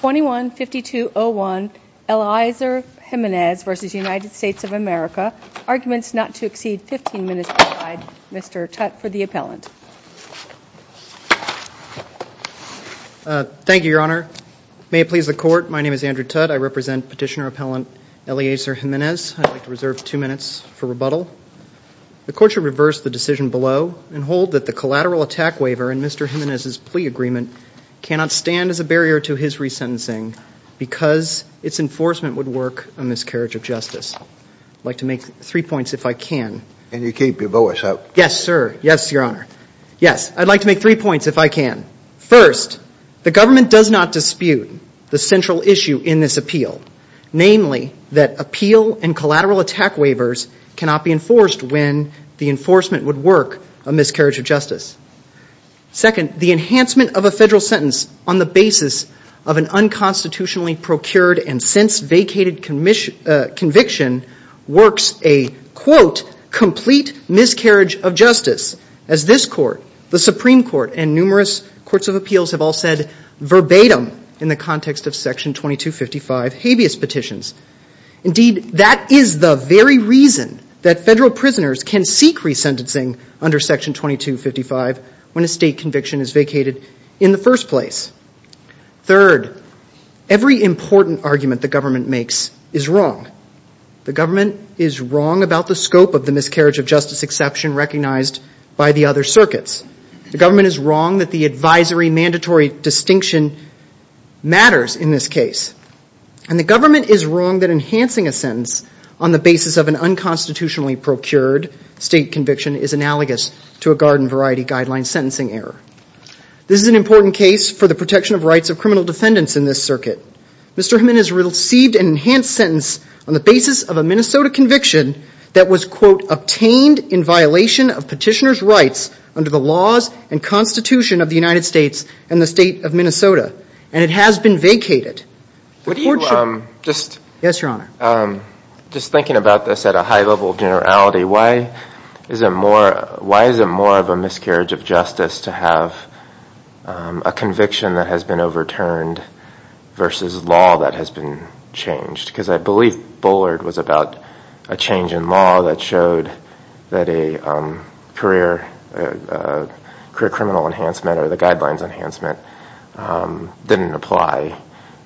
21-52-01 Eliezer Jimenez v. United States of America. Arguments not to exceed 15 minutes aside. Mr. Tutt for the appellant. Thank you, Your Honor. May it please the Court, my name is Andrew Tutt. I represent petitioner appellant Eliezer Jimenez. I'd like to reserve two minutes for rebuttal. The Court should reverse the decision below and hold that the collateral attack waiver in Mr. Jimenez's plea agreement cannot stand as a barrier to his resentencing because its enforcement would work a miscarriage of justice. I'd like to make three points if I can. And you keep your voice up. Yes, sir. Yes, Your Honor. Yes, I'd like to make three points if I can. First, the government does not dispute the central issue in this appeal. Namely, that appeal and collateral attack waivers cannot be enforced when the enforcement would work a miscarriage of justice. Courts of appeals have all said verbatim in the context of Section 2255 habeas petitions. Indeed, that is the very reason that federal prisoners can seek resentencing under Section 2255 when a state conviction is vacated in the first place. Third, every important argument the government makes is wrong. The government is wrong about the scope of the miscarriage of justice exception recognized by the other circuits. The government is wrong that the advisory mandatory distinction matters in this case. And the government is wrong that enhancing a sentence on the basis of an unconstitutionally procured state conviction is analogous to a garden variety guideline sentencing error. This is an important case for the protection of rights of criminal defendants in this circuit. Mr. Haman has received an enhanced sentence on the basis of a Minnesota conviction that was, quote, obtained in violation of petitioner's rights under the laws and constitution of the United States and the state of Minnesota. And it has been vacated. Yes, Your Honor. Just thinking about this at a high level of generality, why is it more of a miscarriage of justice to have a conviction that has been overturned versus law that has been changed? Because I believe Bullard was about a change in law that showed that a career criminal enhancement or the guidelines enhancement didn't apply.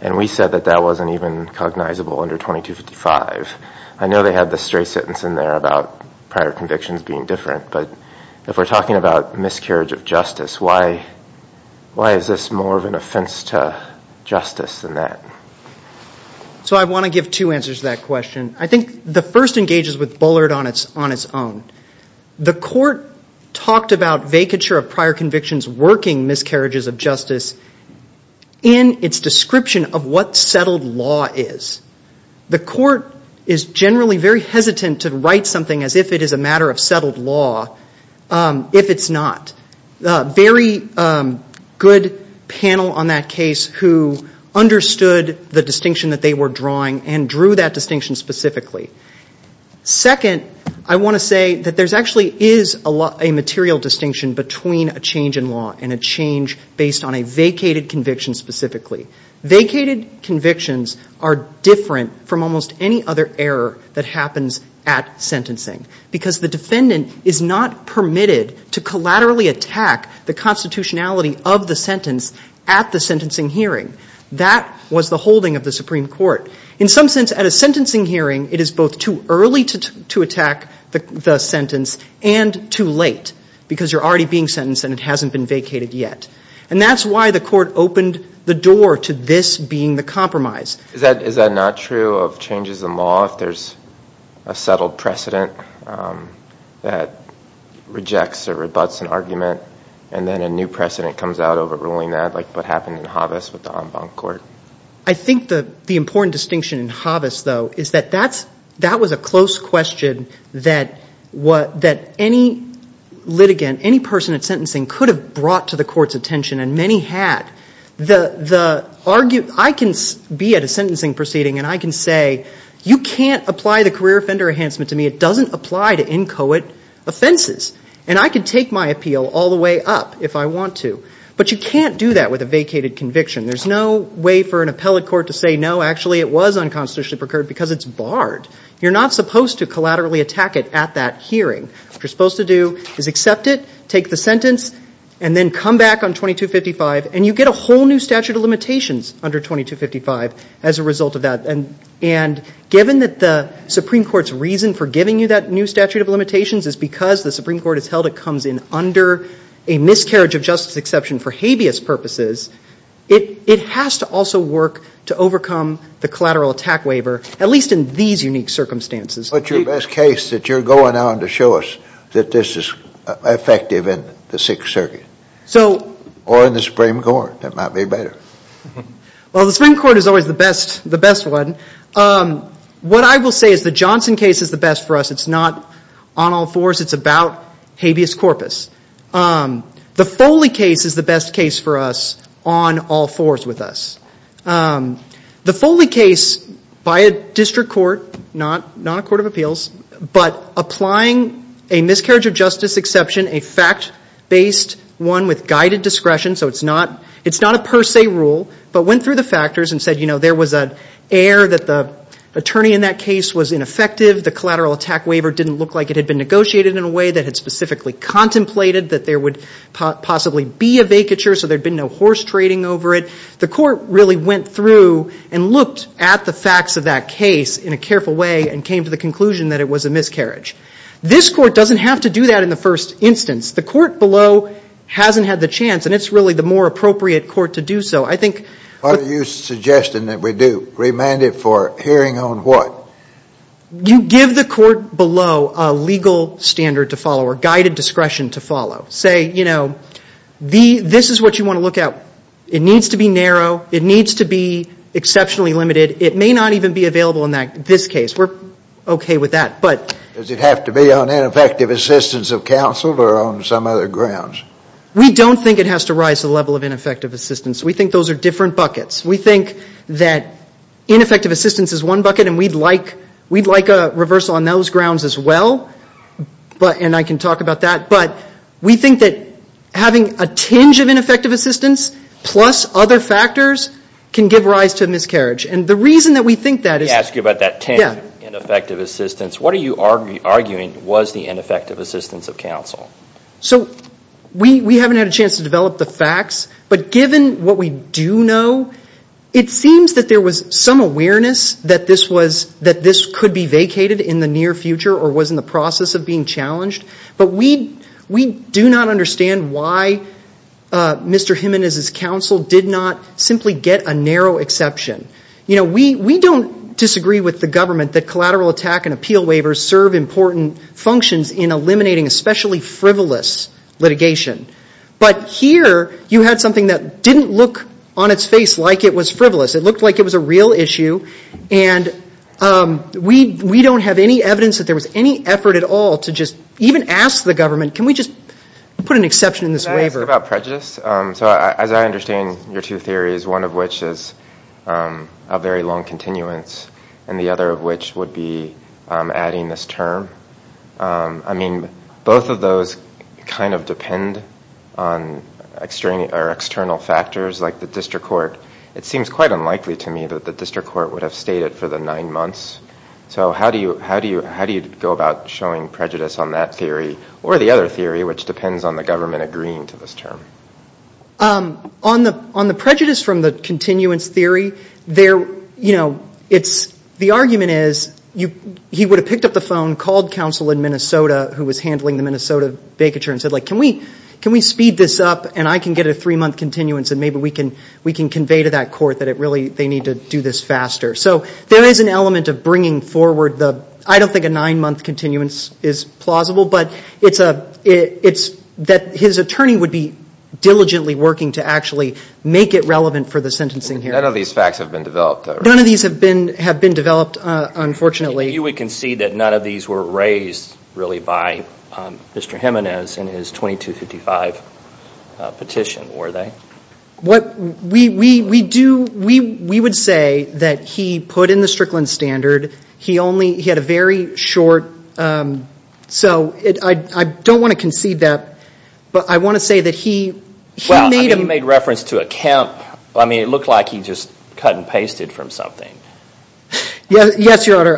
And we said that that wasn't even cognizable under 2255. I know they had the straight sentence in there about prior convictions being different, but if we're talking about miscarriage of justice, why is this more of an offense to justice than that? So I want to give two answers to that question. I think the first engages with Bullard on its own. The court talked about vacature of prior convictions working miscarriages of justice in its description of what settled law is. The court is generally very hesitant to write something as if it is a matter of settled law if it's not. Very good panel on that case who understood the distinction that they were drawing and drew that distinction specifically. Second, I want to say that there actually is a material distinction between a change in law and a change based on a vacated conviction specifically. Vacated convictions are different from almost any other error that happens at sentencing because the defendant is not permitted to collaterally attack the constitutionality of the sentence at the sentencing hearing. That was the holding of the Supreme Court. In some sense, at a sentencing hearing, it is both too early to attack the sentence and too late because you're already being sentenced and it hasn't been vacated yet. And that's why the court opened the door to this being the compromise. Is that not true of changes in law if there's a settled precedent that rejects or rebutts an argument and then a new precedent comes out overruling that like what happened in Havas with the en banc court? I think the important distinction in Havas, though, is that that was a close question that any litigant, any person at sentencing could have brought to the court's attention and many had. I can be at a sentencing proceeding and I can say you can't apply the career offender enhancement to me. It doesn't apply to inchoate offenses. And I can take my appeal all the way up if I want to. But you can't do that with a vacated conviction. There's no way for an appellate court to say no, actually, it was unconstitutionally procured because it's barred. You're not supposed to collaterally attack it at that hearing. What you're supposed to do is accept it, take the sentence, and then come back on 2255 and you get a whole new statute of limitations under 2255 as a result of that. And given that the Supreme Court's reason for giving you that new statute of limitations is because the Supreme Court has held it comes in under a miscarriage of justice exception for Havias purposes, it has to also work to overcome the collateral attack waiver, at least in these unique circumstances. What's your best case that you're going on to show us that this is effective in the Sixth Circuit or in the Supreme Court? That might be better. Well, the Supreme Court is always the best one. What I will say is the Johnson case is the best for us. It's not on all fours. It's about Havias corpus. The Foley case is the best case for us on all fours with us. The Foley case, by a district court, not a court of appeals, but applying a miscarriage of justice exception, a fact-based one with guided discretion. So it's not a per se rule, but went through the factors and said there was an error that the attorney in that case was ineffective. The collateral attack waiver didn't look like it had been negotiated in a way that had specifically contemplated that there would possibly be a vacature so there'd been no horse trading over it. The court really went through and looked at the facts of that case in a careful way and came to the conclusion that it was a miscarriage. This court doesn't have to do that in the first instance. The court below hasn't had the chance, and it's really the more appropriate court to do so. What are you suggesting that we do? Remand it for hearing on what? You give the court below a legal standard to follow or guided discretion to follow. This is what you want to look at. It needs to be narrow. It needs to be exceptionally limited. It may not even be available in this case. We're okay with that. Does it have to be on ineffective assistance of counsel or on some other grounds? We don't think it has to rise to the level of ineffective assistance. We think those are different buckets. We think that ineffective assistance is one bucket, and we'd like a reversal on those grounds as well, and I can talk about that. But we think that having a tinge of ineffective assistance plus other factors can give rise to miscarriage. And the reason that we think that is – Let me ask you about that tinge of ineffective assistance. What are you arguing was the ineffective assistance of counsel? So we haven't had a chance to develop the facts, but given what we do know, it seems that there was some awareness that this was – that this could be vacated in the near future or was in the process of being challenged. But we do not understand why Mr. Jimenez's counsel did not simply get a narrow exception. We don't disagree with the government that collateral attack and appeal waivers serve important functions in eliminating especially frivolous litigation. But here you had something that didn't look on its face like it was frivolous. It looked like it was a real issue, and we don't have any evidence that there was any effort at all to just even ask the government, can we just put an exception in this waiver? Can I ask about prejudice? So as I understand your two theories, one of which is a very long continuance and the other of which would be adding this term, I mean, both of those kind of depend on external factors like the district court. It seems quite unlikely to me that the district court would have stayed it for the nine months. So how do you go about showing prejudice on that theory or the other theory, which depends on the government agreeing to this term? On the prejudice from the continuance theory, there, you know, it's, the argument is he would have picked up the phone, called counsel in Minnesota who was handling the Minnesota vacature and said, like, can we speed this up and I can get a three-month continuance and maybe we can convey to that court that it really, they need to do this faster. So there is an element of bringing forward the, I don't think a nine-month continuance is plausible, but it's that his attorney would be diligently working to actually make it relevant for the sentencing hearing. None of these facts have been developed. None of these have been developed, unfortunately. You would concede that none of these were raised really by Mr. Jimenez in his 2255 petition, were they? What we do, we would say that he put in the Strickland standard. He only, he had a very short, so I don't want to concede that, but I want to say that he made a. Well, I think he made reference to a Kemp. I mean, it looked like he just cut and pasted from something. Yes, Your Honor.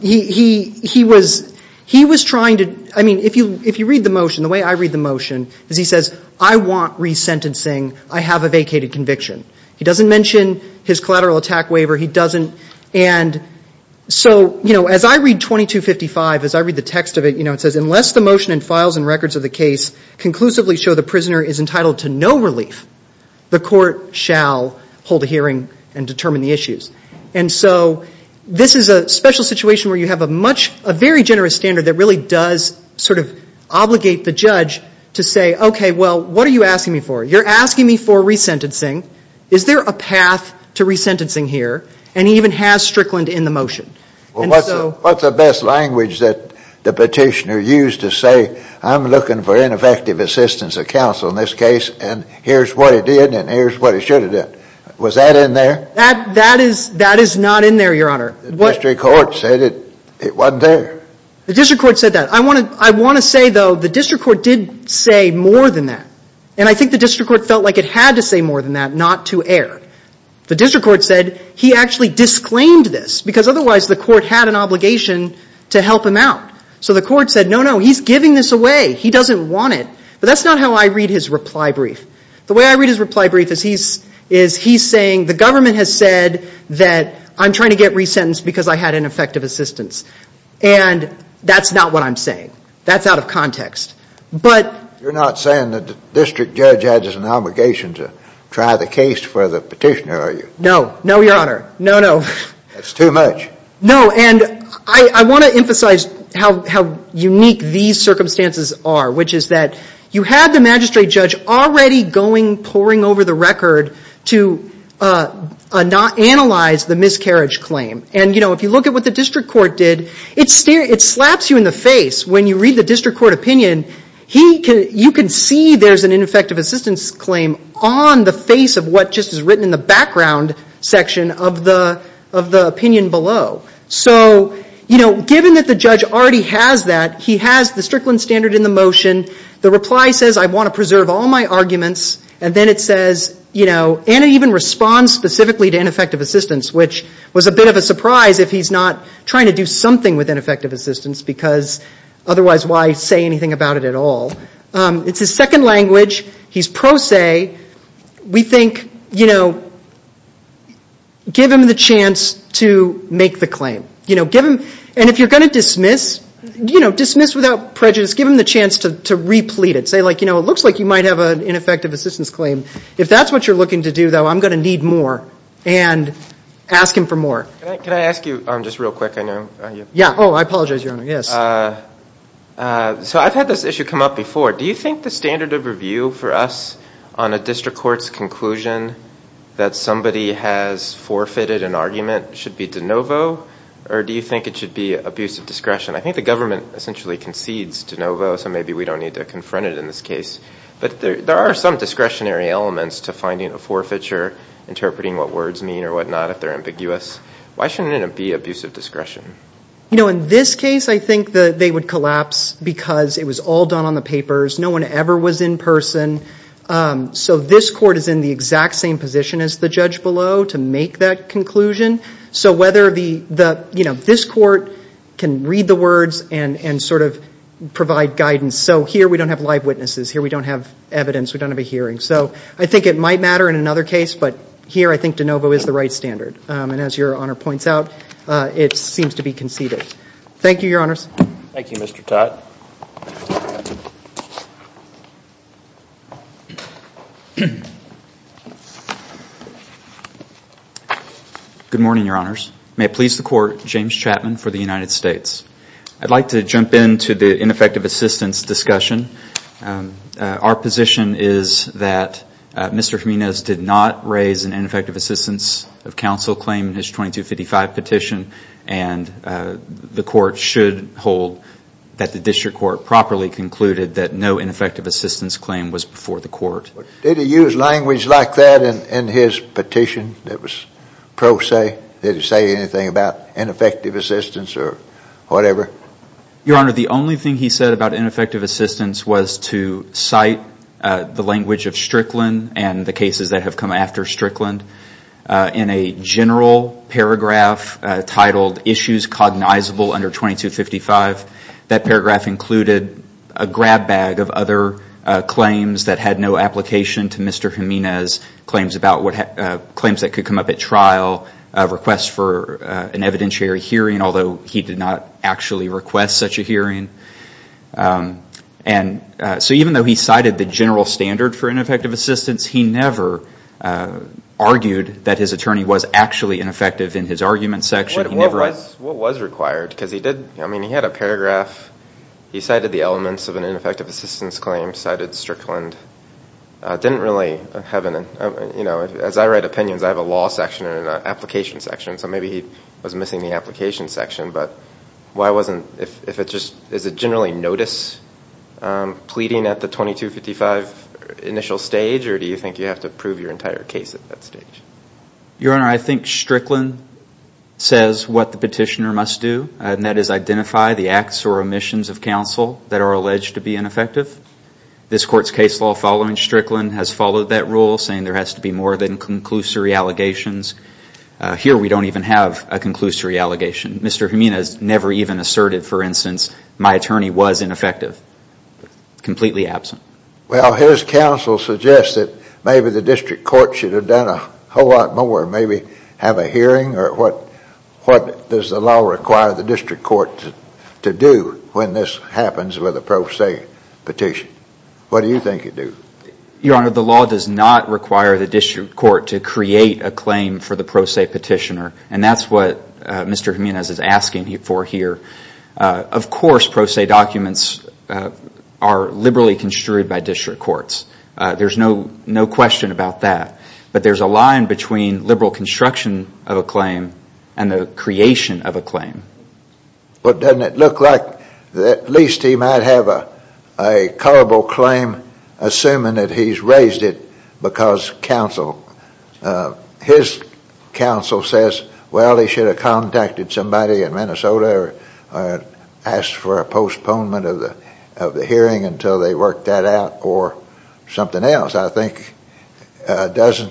He was trying to, I mean, if you read the motion, the way I read the motion is he says, I want resentencing. I have a vacated conviction. He doesn't mention his collateral attack waiver. He doesn't. And so, you know, as I read 2255, as I read the text of it, you know, it says, unless the motion and files and records of the case conclusively show the prisoner is entitled to no relief, the court shall hold a hearing and determine the issues. And so this is a special situation where you have a much, a very generous standard that really does sort of obligate the judge to say, okay, well, what are you asking me for? You're asking me for resentencing. Is there a path to resentencing here? And he even has Strickland in the motion. Well, what's the best language that the petitioner used to say, I'm looking for ineffective assistance of counsel in this case, and here's what he did and here's what he should have done. Was that in there? That is not in there, Your Honor. The district court said it wasn't there. The district court said that. I want to say, though, the district court did say more than that. And I think the district court felt like it had to say more than that not to err. The district court said he actually disclaimed this, because otherwise the court had an obligation to help him out. So the court said, no, no, he's giving this away. He doesn't want it. But that's not how I read his reply brief. The way I read his reply brief is he's saying, the government has said that I'm trying to get resentenced because I had ineffective assistance. And that's not what I'm saying. That's out of context. You're not saying that the district judge has an obligation to try the case for the petitioner, are you? No, no, Your Honor. No, no. That's too much. No, and I want to emphasize how unique these circumstances are, which is that you have the magistrate judge already going, poring over the record to analyze the miscarriage claim. And, you know, if you look at what the district court did, it slaps you in the face when you read the district court opinion. You can see there's an ineffective assistance claim on the face of what just is written in the background section of the opinion below. So, you know, given that the judge already has that, he has the Strickland standard in the motion. The reply says, I want to preserve all my arguments. And then it says, you know, and it even responds specifically to ineffective assistance, which was a bit of a surprise if he's not trying to do something with ineffective assistance because otherwise why say anything about it at all? It's his second language. He's pro se. We think, you know, give him the chance to make the claim. You know, give him, and if you're going to dismiss, you know, dismiss without prejudice, give him the chance to replete it. Say like, you know, it looks like you might have an ineffective assistance claim. If that's what you're looking to do, though, I'm going to need more and ask him for more. Can I ask you just real quick? Yeah. Oh, I apologize, Your Honor. Yes. So I've had this issue come up before. Do you think the standard of review for us on a district court's conclusion that somebody has forfeited an argument should be de novo, or do you think it should be abusive discretion? I think the government essentially concedes de novo, so maybe we don't need to confront it in this case. But there are some discretionary elements to finding a forfeiture, interpreting what words mean or whatnot if they're ambiguous. Why shouldn't it be abusive discretion? You know, in this case, I think that they would collapse because it was all done on the papers. No one ever was in person. So this court is in the exact same position as the judge below to make that conclusion. So whether the, you know, this court can read the words and sort of provide guidance. So here we don't have live witnesses. Here we don't have evidence. We don't have a hearing. So I think it might matter in another case, but here I think de novo is the right standard. And as Your Honor points out, it seems to be conceded. Thank you, Your Honors. Thank you, Mr. Todd. Good morning, Your Honors. May it please the Court, James Chapman for the United States. I'd like to jump into the ineffective assistance discussion. Our position is that Mr. Jimenez did not raise an ineffective assistance of counsel claim in his 2255 petition, and the court should hold that the district court properly concluded that no ineffective assistance claim was before the court. Did he use language like that in his petition that was pro se? Did he say anything about ineffective assistance or whatever? Your Honor, the only thing he said about ineffective assistance was to cite the language of Strickland and the cases that have come after Strickland. In a general paragraph titled Issues Cognizable Under 2255, that paragraph included a grab bag of other claims that had no application to Mr. Jimenez, claims that could come up at trial, requests for an evidentiary hearing, although he did not actually request such a hearing. So even though he cited the general standard for ineffective assistance, he never argued that his attorney was actually ineffective in his argument section. What was required? I mean, he had a paragraph. He cited the elements of an ineffective assistance claim cited Strickland. As I write opinions, I have a law section and an application section, so maybe he was missing the application section. Is it generally notice pleading at the 2255 initial stage, or do you think you have to prove your entire case at that stage? Your Honor, I think Strickland says what the petitioner must do, and that is identify the acts or omissions of counsel that are alleged to be ineffective. This court's case law following Strickland has followed that rule, saying there has to be more than conclusory allegations. Here we don't even have a conclusory allegation. Mr. Jimenez never even asserted, for instance, my attorney was ineffective. Completely absent. Well, his counsel suggests that maybe the district court should have done a whole lot more, maybe have a hearing, or what does the law require the district court to do when this happens with a pro se petition? What do you think it do? Your Honor, the law does not require the district court to create a claim for the pro se petitioner, and that's what Mr. Jimenez is asking for here. Of course, pro se documents are liberally construed by district courts. There's no question about that, but there's a line between liberal construction of a claim and the creation of a claim. But doesn't it look like at least he might have a culpable claim, assuming that he's raised it because counsel, his counsel says, well, he should have contacted somebody in Minnesota or asked for a postponement of the hearing until they worked that out or something else. Doesn't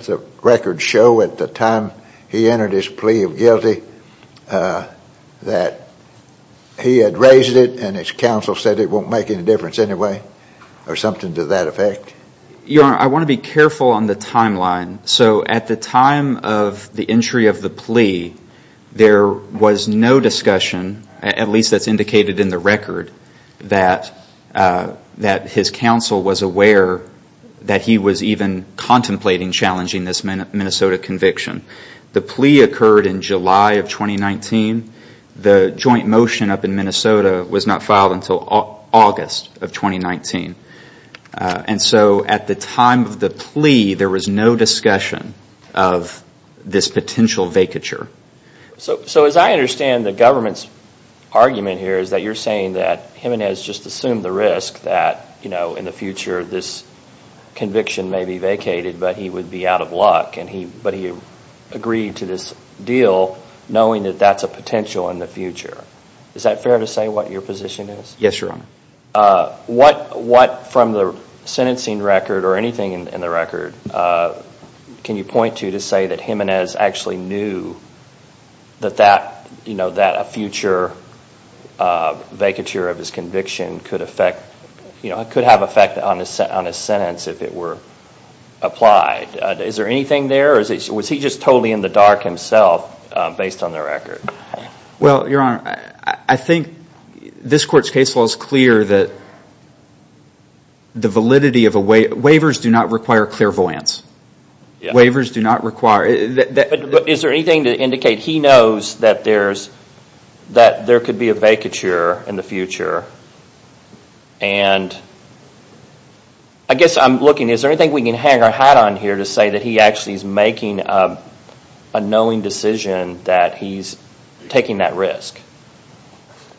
the record show at the time he entered his plea of guilty that he had raised it and his counsel said it won't make any difference anyway or something to that effect? Your Honor, I want to be careful on the timeline. So at the time of the entry of the plea, there was no discussion, at least that's indicated in the record, that his counsel was aware that he was even contemplating challenging this Minnesota conviction. The plea occurred in July of 2019. The joint motion up in Minnesota was not filed until August of 2019. And so at the time of the plea, there was no discussion of this potential vacature. So as I understand the government's argument here is that you're saying that Jimenez just assumed the risk that in the future this conviction may be vacated but he would be out of luck, but he agreed to this deal knowing that that's a potential in the future. Is that fair to say what your position is? Yes, Your Honor. What from the sentencing record or anything in the record can you point to to say that Jimenez actually knew that a future vacature of his conviction could affect, could have effect on his sentence if it were applied? Is there anything there or was he just totally in the dark himself based on the record? Well, Your Honor, I think this court's case law is clear that the validity of a waiver, waivers do not require clairvoyance. Waivers do not require... But is there anything to indicate he knows that there could be a vacature in the future? And I guess I'm looking, is there anything we can hang our hat on here to say that he actually is making a knowing decision that he's taking that risk?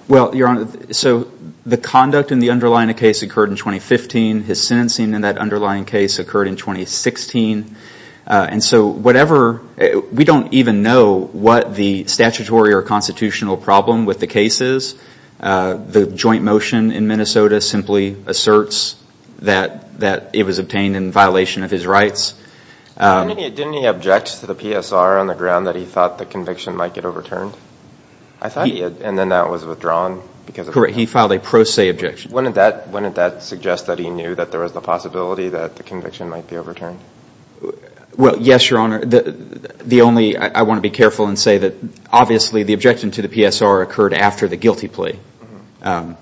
Well, Your Honor, so the conduct in the underlying case occurred in 2015. His sentencing in that underlying case occurred in 2016. And so whatever, we don't even know what the statutory or constitutional problem with the case is. The joint motion in Minnesota simply asserts that it was obtained in violation of his rights. Didn't he object to the PSR on the ground that he thought the conviction might get overturned? I thought he had, and then that was withdrawn because of... Correct, he filed a pro se objection. Wouldn't that suggest that he knew that there was the possibility that the conviction might be overturned? Well, yes, Your Honor. The only, I want to be careful and say that obviously the objection to the PSR occurred after the guilty plea. But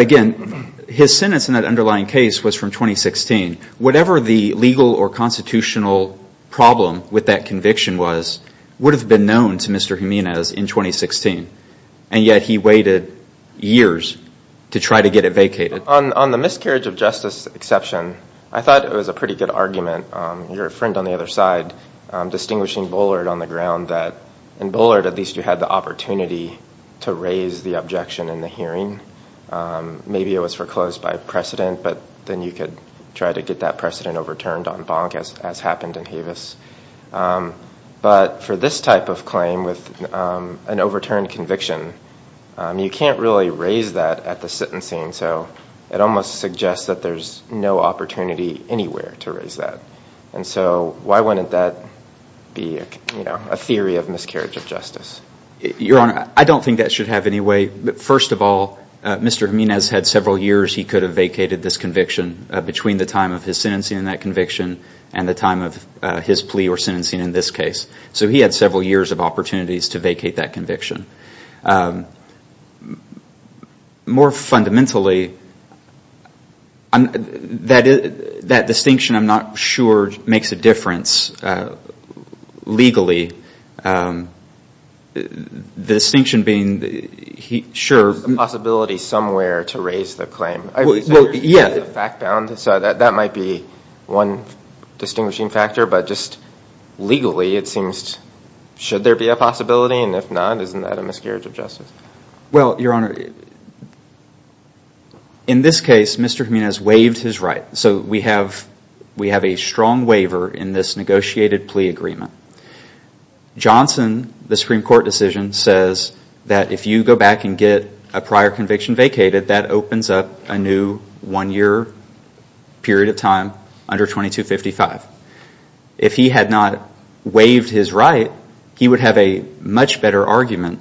again, his sentence in that underlying case was from 2016. Whatever the legal or constitutional problem with that conviction was would have been known to Mr. Jimenez in 2016. And yet he waited years to try to get it vacated. On the miscarriage of justice exception, I thought it was a pretty good argument. Your friend on the other side distinguishing Bullard on the ground that in Bullard at least you had the opportunity to raise the objection in the hearing. Maybe it was foreclosed by precedent, but then you could try to get that precedent overturned on Bonk as happened in Havis. But for this type of claim with an overturned conviction, you can't really raise that at the sentencing. So it almost suggests that there's no opportunity anywhere to raise that. And so why wouldn't that be a theory of miscarriage of justice? Your Honor, I don't think that should have any way. First of all, Mr. Jimenez had several years he could have vacated this conviction between the time of his sentencing in that conviction and the time of his plea or sentencing in this case. So he had several years of opportunities to vacate that conviction. More fundamentally, that distinction I'm not sure makes a difference legally. There's a possibility somewhere to raise the claim. I would say it's fact-bound, so that might be one distinguishing factor. But just legally, it seems should there be a possibility? And if not, isn't that a miscarriage of justice? Well, Your Honor, in this case, Mr. Jimenez waived his right. So we have a strong waiver in this negotiated plea agreement. Johnson, the Supreme Court decision, says that if you go back and get a prior conviction vacated, that opens up a new one-year period of time under 2255. If he had not waived his right, he would have a much better argument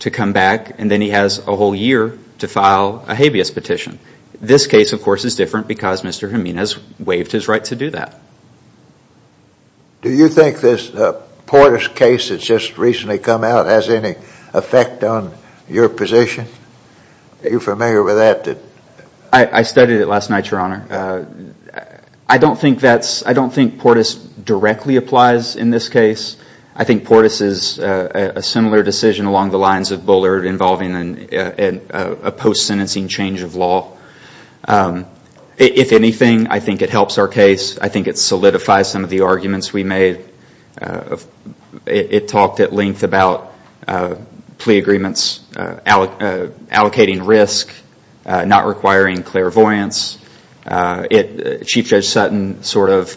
to come back, and then he has a whole year to file a habeas petition. This case, of course, is different because Mr. Jimenez waived his right to do that. Do you think this Portis case that's just recently come out has any effect on your position? Are you familiar with that? I studied it last night, Your Honor. I don't think Portis directly applies in this case. I think Portis is a similar decision along the lines of Bullard involving a post-sentencing change of law. If anything, I think it helps our case. I think it solidifies some of the arguments we made. It talked at length about plea agreements allocating risk, not requiring clairvoyance. Chief Judge Sutton sort of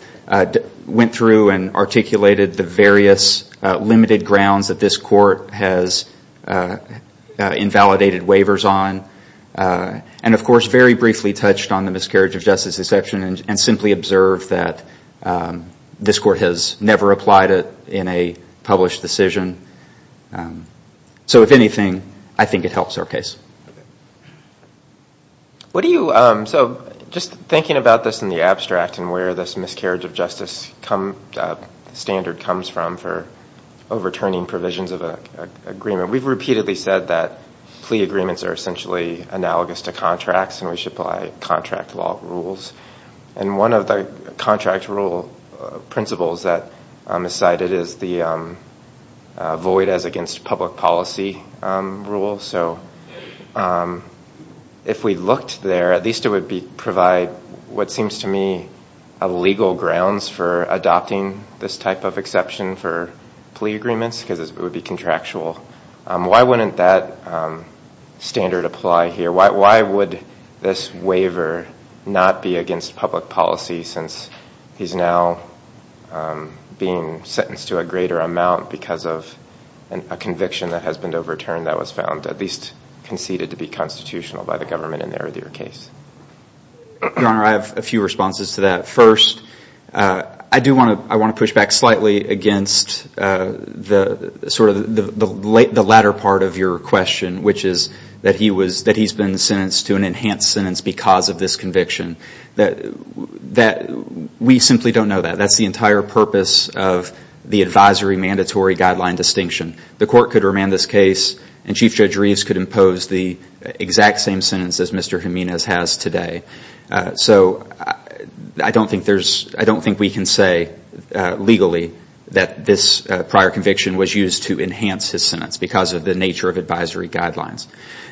went through and articulated the various limited grounds that this court has invalidated waivers on. And, of course, very briefly touched on the miscarriage of justice exception and simply observed that this court has never applied it in a published decision. So, if anything, I think it helps our case. So just thinking about this in the abstract and where this miscarriage of justice standard comes from for overturning provisions of an agreement, we've repeatedly said that plea agreements are essentially analogous to contracts and we should apply contract law rules. And one of the contract rule principles that is cited is the void as against public policy rule. So if we looked there, at least it would provide what seems to me legal grounds for adopting this type of exception for plea agreements because it would be contractual. Why wouldn't that standard apply here? Why would this waiver not be against public policy since he's now being sentenced to a greater amount because of a conviction that has been overturned that was found, at least conceded to be constitutional by the government in the earlier case? Your Honor, I have a few responses to that. First, I do want to push back slightly against sort of the latter part of your question, which is that he's been sentenced to an enhanced sentence because of this conviction. We simply don't know that. That's the entire purpose of the advisory mandatory guideline distinction. The court could remand this case and Chief Judge Reeves could impose the exact same sentence as Mr. Jimenez has today. So I don't think we can say legally that this prior conviction was used to enhance his sentence because of the nature of advisory guidelines.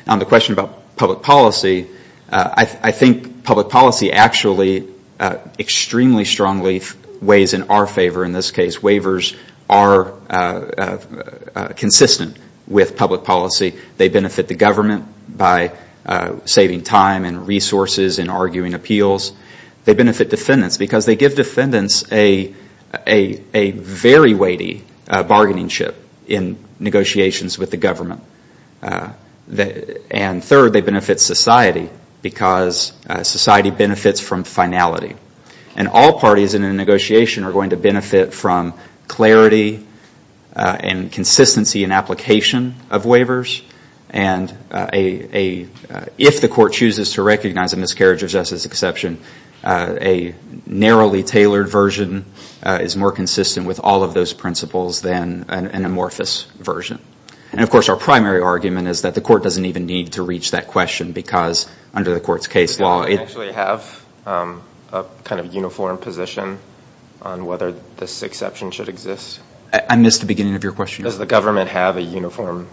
On the question about public policy, I think public policy actually extremely strongly weighs in our favor in this case. Waivers are consistent with public policy. They benefit the government by saving time and resources in arguing appeals. They benefit defendants because they give defendants a very weighty bargaining chip in negotiations with the government. And third, they benefit society because society benefits from finality. And all parties in a negotiation are going to benefit from clarity and consistency in application of waivers. And if the court chooses to recognize a miscarriage of justice exception, a narrowly tailored version is more consistent with all of those principles than an amorphous version. And, of course, our primary argument is that the court doesn't even need to reach that question because under the court's case law it- Does the government actually have a kind of uniform position on whether this exception should exist? I missed the beginning of your question. Does the government have a uniform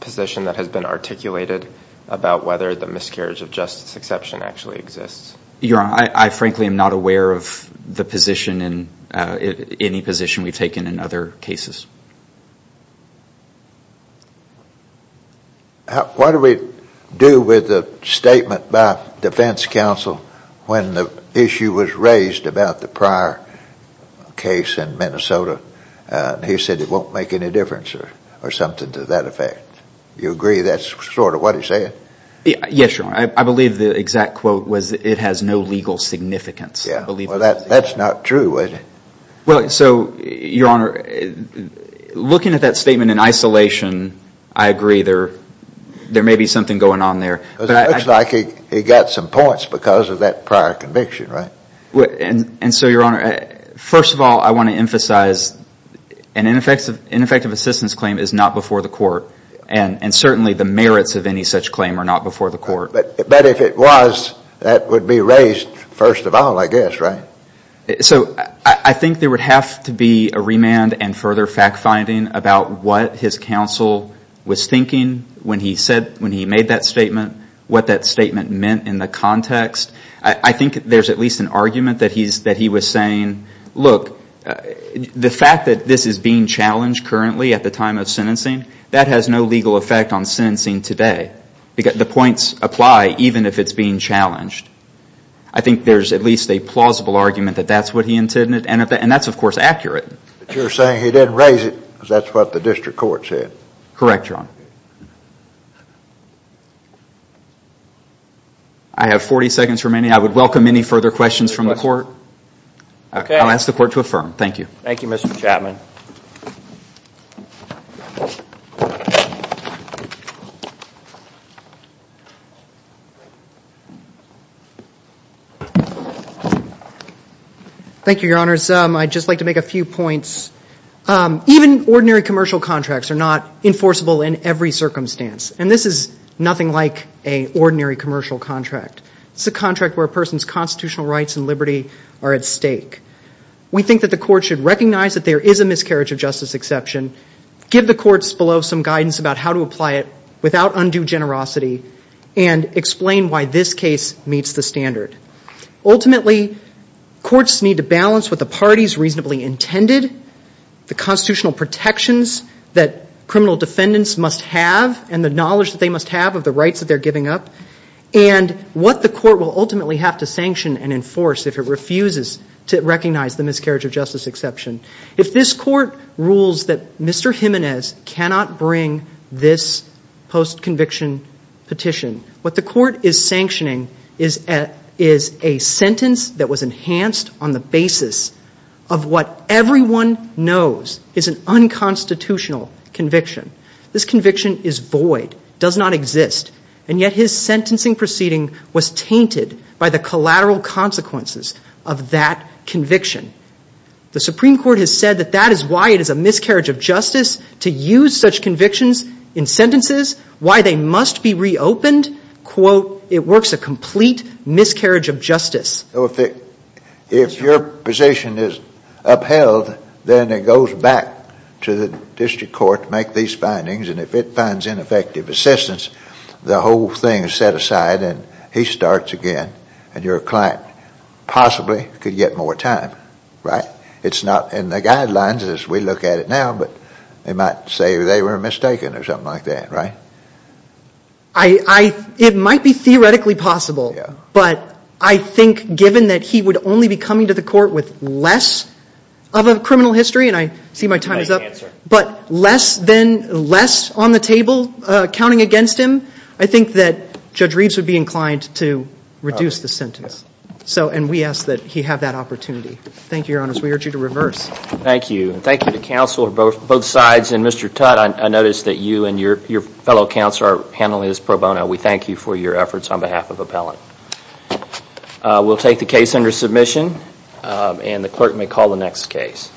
position that has been articulated about whether the miscarriage of justice exception actually exists? Your Honor, I frankly am not aware of the position and any position we've taken in other cases. What do we do with the statement by defense counsel when the issue was raised about the prior case in Minnesota? He said it won't make any difference or something to that effect. Do you agree that's sort of what he's saying? Yes, Your Honor. I believe the exact quote was it has no legal significance. Well, that's not true, is it? Well, so, Your Honor, looking at that statement in isolation, I agree there may be something going on there. It looks like he got some points because of that prior conviction, right? And so, Your Honor, first of all, I want to emphasize an ineffective assistance claim is not before the court and certainly the merits of any such claim are not before the court. But if it was, that would be raised first of all, I guess, right? So, I think there would have to be a remand and further fact-finding about what his counsel was thinking when he made that statement, what that statement meant in the context. I think there's at least an argument that he was saying, look, the fact that this is being challenged currently at the time of sentencing, that has no legal effect on sentencing today. The points apply even if it's being challenged. I think there's at least a plausible argument that that's what he intended and that's, of course, accurate. But you're saying he didn't raise it because that's what the district court said. Correct, Your Honor. I have 40 seconds remaining. I would welcome any further questions from the court. Okay. I'll ask the court to affirm. Thank you. Thank you, Mr. Chapman. Thank you, Your Honors. I'd just like to make a few points. Even ordinary commercial contracts are not enforceable in every circumstance, and this is nothing like an ordinary commercial contract. It's a contract where a person's constitutional rights and liberty are at stake. We think that the court should recognize that there is a miscarriage of justice exception, give the courts below some guidance about how to apply it without undue generosity, and explain why this case meets the standard. Ultimately, courts need to balance what the parties reasonably intended, the constitutional protections that criminal defendants must have and the knowledge that they must have of the rights that they're giving up, and what the court will ultimately have to sanction and enforce if it refuses to recognize the miscarriage of justice exception. If this court rules that Mr. Jimenez cannot bring this post-conviction petition, what the court is sanctioning is a sentence that was enhanced on the basis of what everyone knows is an unconstitutional conviction. This conviction is void, does not exist, and yet his sentencing proceeding was tainted by the collateral consequences of that conviction. The Supreme Court has said that that is why it is a miscarriage of justice to use such convictions in sentences, why they must be reopened. Quote, it works a complete miscarriage of justice. If your position is upheld, then it goes back to the district court to make these findings, and if it finds ineffective assistance, the whole thing is set aside and he starts again, and your client possibly could get more time, right? It's not in the guidelines as we look at it now, but they might say they were mistaken or something like that, right? It might be theoretically possible, but I think given that he would only be coming to the court with less of a criminal history, and I see my time is up, but less on the table counting against him, I think that Judge Reeves would be inclined to reduce the sentence, and we ask that he have that opportunity. Thank you, Your Honor. We urge you to reverse. Thank you, and thank you to counsel on both sides, and Mr. Tutte, I notice that you and your fellow counsel are handling this pro bono. We thank you for your efforts on behalf of appellant. We'll take the case under submission, and the clerk may call the next case.